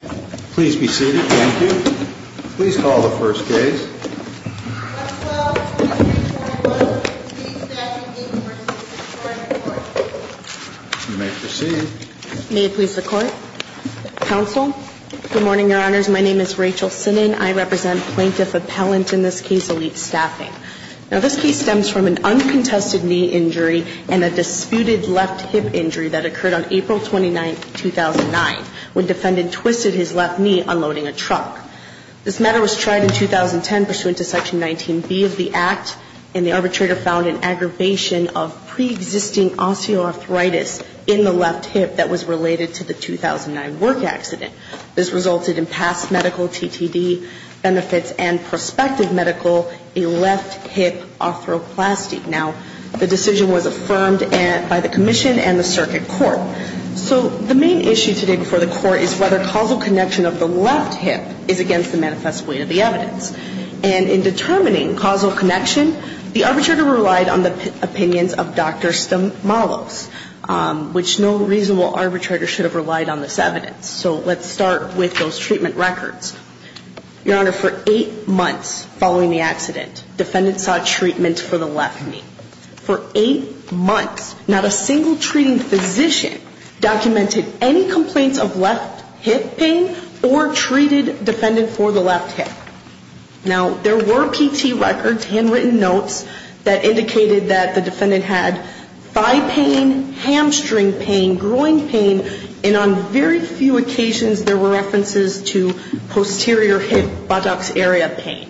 Please be seated. Thank you. Please call the first case. I, as well as the plaintiff, and all others in this case, staff, Inc. v. Workers' Compensation Comp'n. Court. You may proceed. May it please the Court. Counsel. Good morning, Your Honors. My name is Rachel Sinan. I represent Plaintiff Appellant, in this case, Elite Staffing. Now, this case stems from an uncontested knee injury and a disputed left hip injury that occurred on April 29, 2009, when defendant twisted his left knee unloading a truck. This matter was tried in 2010 pursuant to Section 19B of the Act, and the arbitrator found an aggravation of pre-existing osteoarthritis in the left hip that was related to the 2009 work accident. This resulted in past medical TTD benefits and prospective medical, a left hip arthroplasty. Now, the decision was affirmed by the commission and the circuit court. So, the main issue today before the Court is whether causal connection of the left hip is against the manifest weight of the evidence. And in determining causal connection, the arbitrator relied on the opinions of Dr. Stamalos, which no reasonable arbitrator should have relied on this evidence. So, let's start with those treatment records. Your Honor, for eight months following the accident, defendant saw treatment for the left knee. For eight months, not a single treating physician documented any complaints of left hip pain or treated defendant for the left hip. Now, there were PT records, handwritten notes that indicated that the defendant had thigh pain, hamstring pain, groin pain, and on very few occasions, there were references to posterior hip buttocks area pain.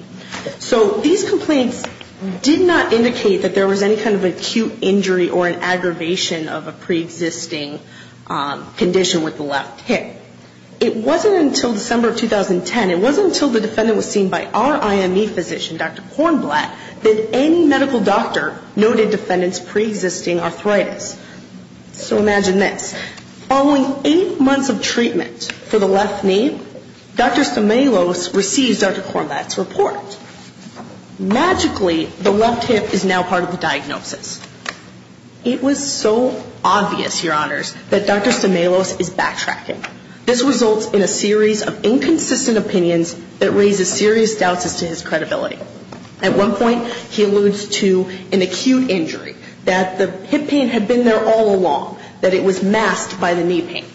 So, these complaints did not indicate that there was any kind of acute injury or an aggravation of a preexisting condition with the left hip. It wasn't until December of 2010, it wasn't until the defendant was seen by our IME physician, Dr. Kornblatt, that any medical doctor noted defendant's preexisting arthritis. So, imagine this. Following eight months of treatment for the left knee, Dr. Stamalos received Dr. Kornblatt's report. Magically, the left hip is now part of the diagnosis. It was so obvious, Your Honors, that Dr. Stamalos is backtracking. This results in a series of inconsistent opinions that raises serious doubts as to his credibility. At one point, he alludes to an acute injury, that the hip pain had been there all along, that it was masked by the knee pain.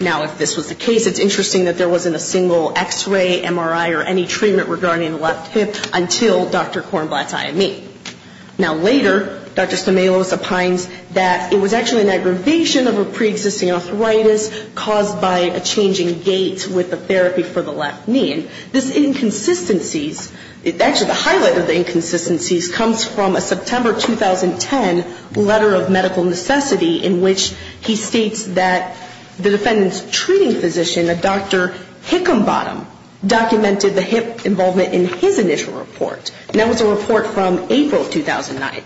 Now, if this was the case, it's interesting that there wasn't a single X-ray, MRI or any treatment regarding the left hip until Dr. Kornblatt's IME. Now, later, Dr. Stamalos opines that it was actually an aggravation of a preexisting arthritis caused by a change in gait with the therapy for the left knee. And this inconsistencies, actually the highlight of the inconsistencies comes from a September 2010 letter of medical necessity in which he states that the defendant's treating physician, a Dr. Hickenbottom, documented the hip involvement in his initial report. And that was a report from April 2009.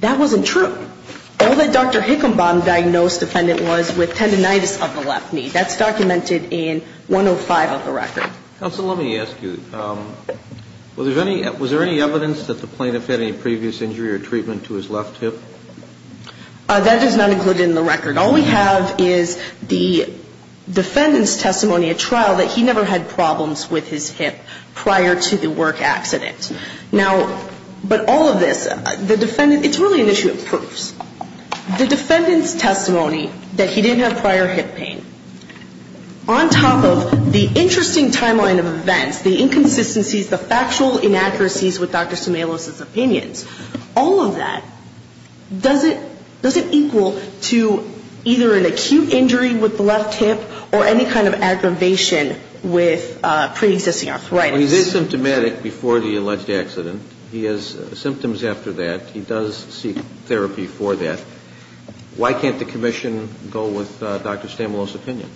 That wasn't true. All that Dr. Hickenbottom diagnosed the defendant was with tendonitis of the left knee. That's documented in 105 of the record. Counsel, let me ask you, was there any evidence that the plaintiff had any previous injury or treatment to his left hip? That is not included in the record. All we have is the defendant's testimony at trial that he never had problems with his hip prior to the work accident. Now, but all of this, the defendant, it's really an issue of proofs. The defendant's testimony that he didn't have prior hip pain, on top of the interesting timeline of events, the inconsistencies, the factual inaccuracies with Dr. Stamoulos' opinions, all of that, does it equal to either an acute injury with the left hip or any kind of aggravation with preexisting arthritis? Well, he is symptomatic before the alleged accident. He has symptoms after that. He does seek therapy for that. Why can't the commission go with Dr. Stamoulos' opinion?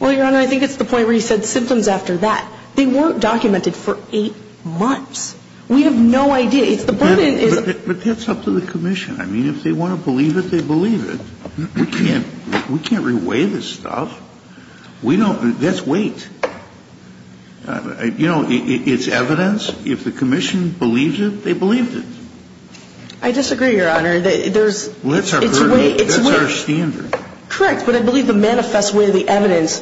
Well, Your Honor, I think it's the point where he said symptoms after that. They weren't documented for eight months. We have no idea. It's the burden. But that's up to the commission. I mean, if they want to believe it, they believe it. We can't re-weigh this stuff. We don't. That's weight. You know, it's evidence. If the commission believes it, they believed it. I disagree, Your Honor. That's our burden. That's our standard. Correct. But I believe the manifest way the evidence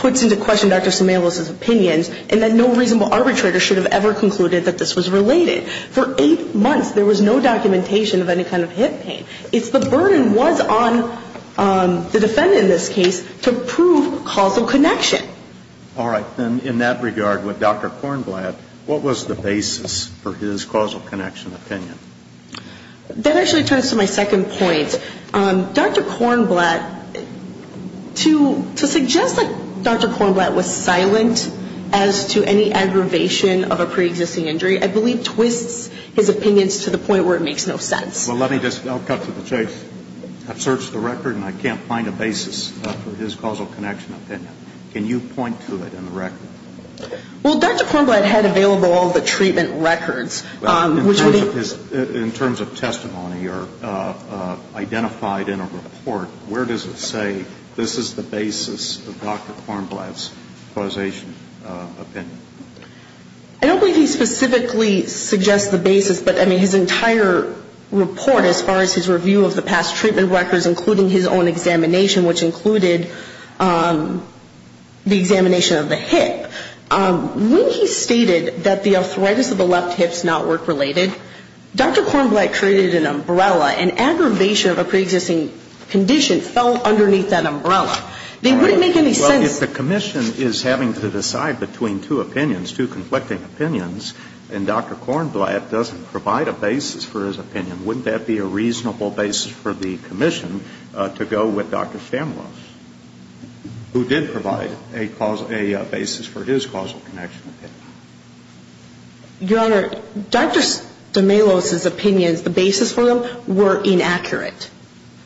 puts into question Dr. Stamoulos' opinions and that no reasonable arbitrator should have ever concluded that this was related. For eight months, there was no documentation of any kind of hip pain. It's the burden was on the defendant in this case to prove causal connection. All right. Then in that regard, with Dr. Kornblatt, what was the basis for his causal connection opinion? That actually turns to my second point. Dr. Kornblatt, to suggest that Dr. Kornblatt was silent as to any aggravation of a preexisting injury, I believe twists his opinions to the point where it makes no sense. Well, let me just, I'll cut to the chase. I've searched the record, and I can't find a basis for his causal connection opinion. Can you point to it in the record? Well, Dr. Kornblatt had available all the treatment records. In terms of testimony or identified in a report, where does it say this is the basis of Dr. Kornblatt's causation opinion? I don't believe he specifically suggests the basis, but, I mean, his entire report as far as his review of the past treatment records, including his own examination, which included the examination of the hip, when he stated that the arthritis of the left hip is not work-related. Dr. Kornblatt created an umbrella. An aggravation of a preexisting condition fell underneath that umbrella. They wouldn't make any sense. Well, if the commission is having to decide between two opinions, two conflicting opinions, and Dr. Kornblatt doesn't provide a basis for his opinion, wouldn't that be a reasonable basis for the commission to go with Dr. Stamlos, who did provide a basis for his causal connection opinion? Your Honor, Dr. Stamlos' opinions, the basis for them, were inaccurate.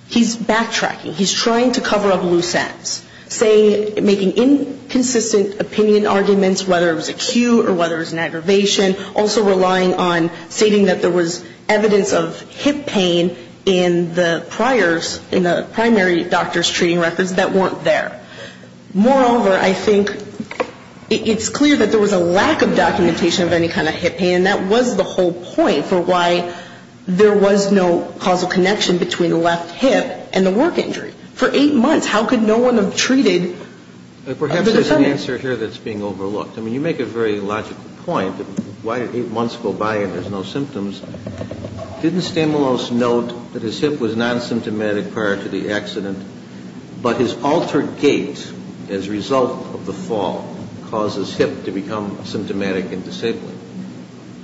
He's backtracking. He's trying to cover up loose ends, saying, making inconsistent opinion arguments, whether it was acute or whether it was an aggravation, also relying on stating that there was evidence of hip pain in the priors, in the primary doctor's treating records that weren't there. Moreover, I think it's clear that there was a lack of documentation of any kind of hip pain, and that was the whole point for why there was no causal connection between the left hip and the work injury. For eight months, how could no one have treated the defendant? Perhaps there's an answer here that's being overlooked. I mean, you make a very logical point that why did eight months go by and there's no symptoms. Didn't Stamlos note that his hip was non-symptomatic prior to the accident, but his altered gait, as a result of the fall, causes hip to become symptomatic and disabled?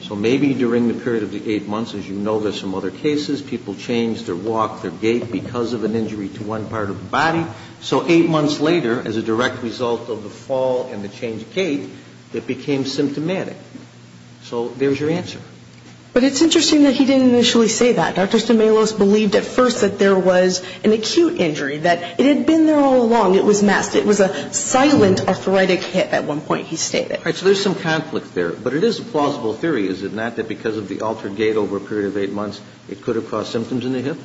So maybe during the period of the eight months, as you know, there's some other cases, people change their walk, their gait, because of an injury to one part of the body. So eight months later, as a direct result of the fall and the change of gait, it became symptomatic. So there's your answer. But it's interesting that he didn't initially say that. Dr. Stamlos believed at first that there was an acute injury, that it had been there all along, it was masked. It was a silent arthritic hip at one point, he stated. All right. So there's some conflict there. But it is a plausible theory, is it not, that because of the altered gait over a period of eight months, it could have caused symptoms in the hip?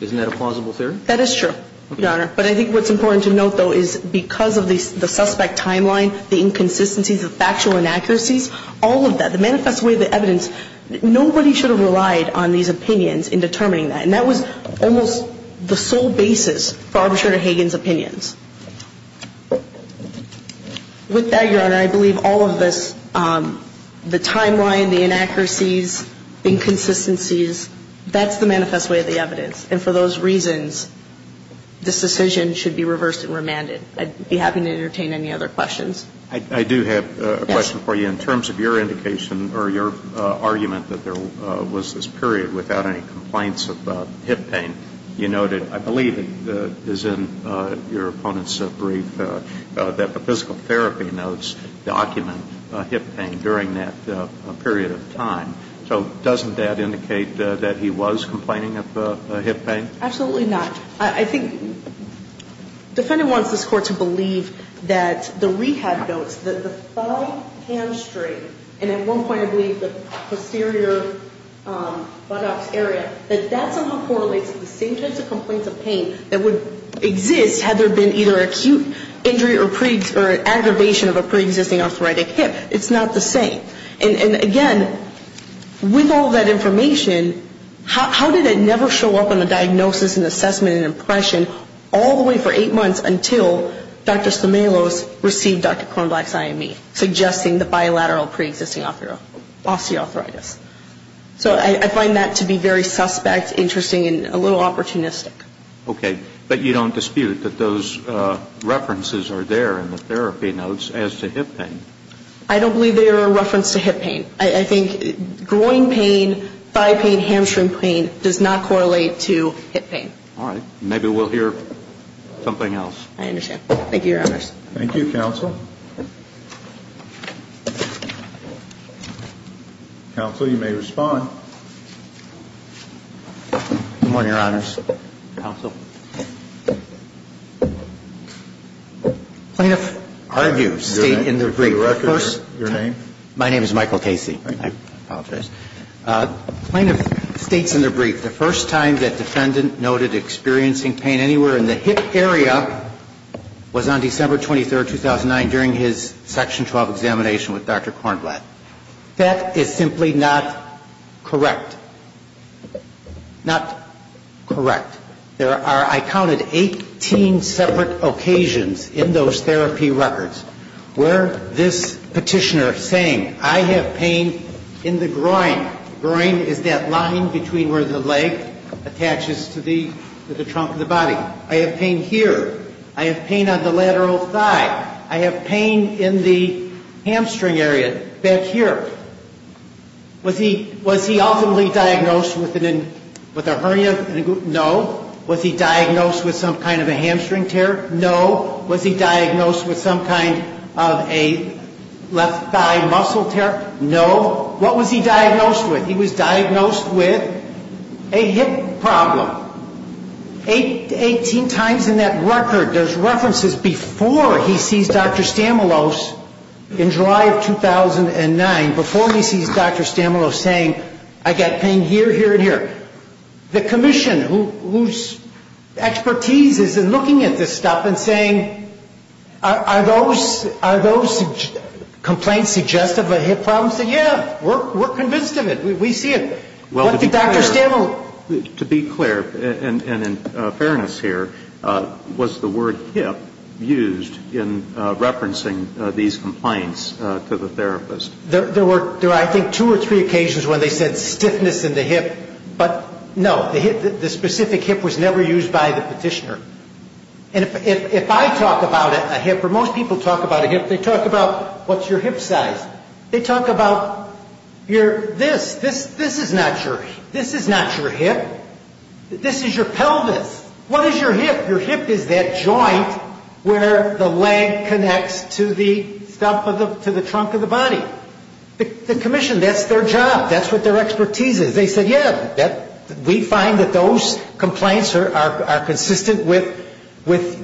Isn't that a plausible theory? That is true, Your Honor. But I think what's important to note, though, is because of the suspect timeline, the inconsistencies, the factual inaccuracies, all of that, the manifest way of the evidence, nobody should have relied on these opinions in determining that. And that was almost the sole basis for Arbiter Hagan's opinions. With that, Your Honor, I believe all of this, the timeline, the inaccuracies, inconsistencies, that's the manifest way of the evidence. And for those reasons, this decision should be reversed and remanded. I'd be happy to entertain any other questions. I do have a question for you. In terms of your indication or your argument that there was this period without any complaints of hip pain, you noted, I believe it is in your opponent's brief, that the physical therapy notes document hip pain during that period of time. So doesn't that indicate that he was complaining of hip pain? Absolutely not. I think the defendant wants this Court to believe that the rehab notes, that the exterior buttocks area, that that somehow correlates to the same types of complaints of pain that would exist had there been either acute injury or aggravation of a pre-existing arthritic hip. It's not the same. And again, with all that information, how did it never show up in the diagnosis and assessment and impression all the way for eight months until Dr. Stamalos received Dr. Stamalos' report? I don't believe that there is any evidence that there was hip pain or arthritis. So I find that to be very suspect, interesting and a little opportunistic. Okay. But you don't dispute that those references are there in the therapy notes as to hip pain. I don't believe they are a reference to hip pain. I think groin pain, thigh pain, hamstring pain does not correlate to hip pain. All right. Maybe we'll hear something else. I understand. Thank you, Your Honors. Thank you, Counsel. Counsel, you may respond. Good morning, Your Honors. Counsel. Plaintiff, state in the brief. Your name? My name is Michael Casey. I apologize. Plaintiff, states in the brief, the first time that defendant noted experiencing pain anywhere in the hip area was on December 23, 2009, during his Section 12 examination with Dr. Kornblatt. That is simply not correct. Not correct. There are, I counted, 18 separate occasions in those therapy records where this is that line between where the leg attaches to the trunk of the body. I have pain here. I have pain on the lateral thigh. I have pain in the hamstring area back here. Was he ultimately diagnosed with a hernia? No. Was he diagnosed with some kind of a hamstring tear? No. Was he diagnosed with some kind of a left thigh muscle tear? No. What was he diagnosed with? He was diagnosed with a hip problem. Eighteen times in that record, there's references before he sees Dr. Stamoulos in July of 2009, before he sees Dr. Stamoulos, saying, I got pain here, here, and here. The commission, whose expertise is in looking at this stuff and saying, are those complaints suggestive of a hip problem? Say, yeah, we're convinced of it. We see it. What did Dr. Stamoulos do? To be clear, and in fairness here, was the word hip used in referencing these complaints to the therapist? There were, I think, two or three occasions when they said stiffness in the hip. But, no, the specific hip was never used by the petitioner. And if I talk about a hip, or most people talk about a hip, they talk about, what's your hip size? They talk about your this. This is not your hip. This is your pelvis. What is your hip? Your hip is that joint where the leg connects to the trunk of the body. The commission, that's their job. That's what their expertise is. They said, yeah, we find that those complaints are consistent with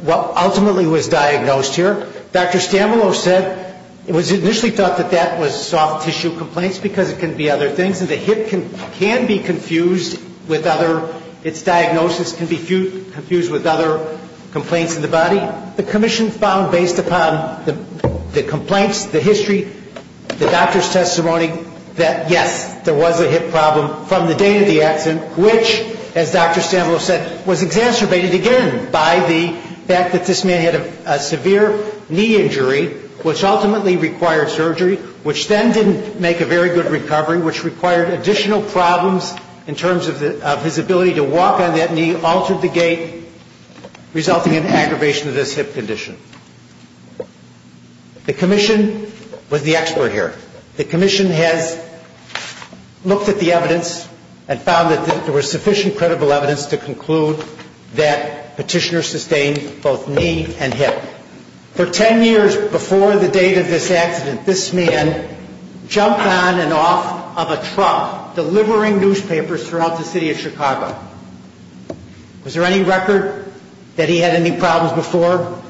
what ultimately was diagnosed here. Dr. Stamoulos said, it was initially thought that that was soft tissue complaints because it can be other things. And the hip can be confused with other, its diagnosis can be confused with other complaints in the body. The commission found, based upon the complaints, the history, the doctor's testimony, that, yes, there was a hip problem from the date of the accident, which, as Dr. Stamoulos said, was exacerbated again by the fact that this man had a severe knee injury, which ultimately required surgery, which then didn't make a very good recovery, which required additional problems in terms of his ability to walk on that knee, altered the gait, resulting in aggravation of this hip condition. The commission was the expert here. The commission has looked at the evidence and found that there was sufficient credible evidence to conclude that Petitioner sustained both knee and hip. For ten years before the date of this accident, this man jumped on and off of a truck, delivering newspapers throughout the city of Chicago. Was there any record that he had any problems before?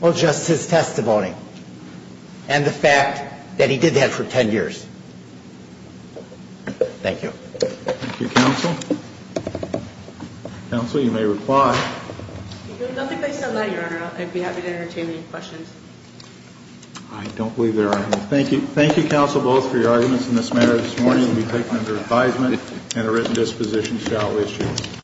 Well, just his testimony and the fact that he did that for ten years. Thank you. Thank you, counsel. Counsel, you may reply. Nothing based on that, Your Honor. I'd be happy to entertain any questions. I don't believe there are any. Thank you. Thank you, counsel, both, for your arguments in this matter. This morning will be taken under advisement and a written disposition shall issue.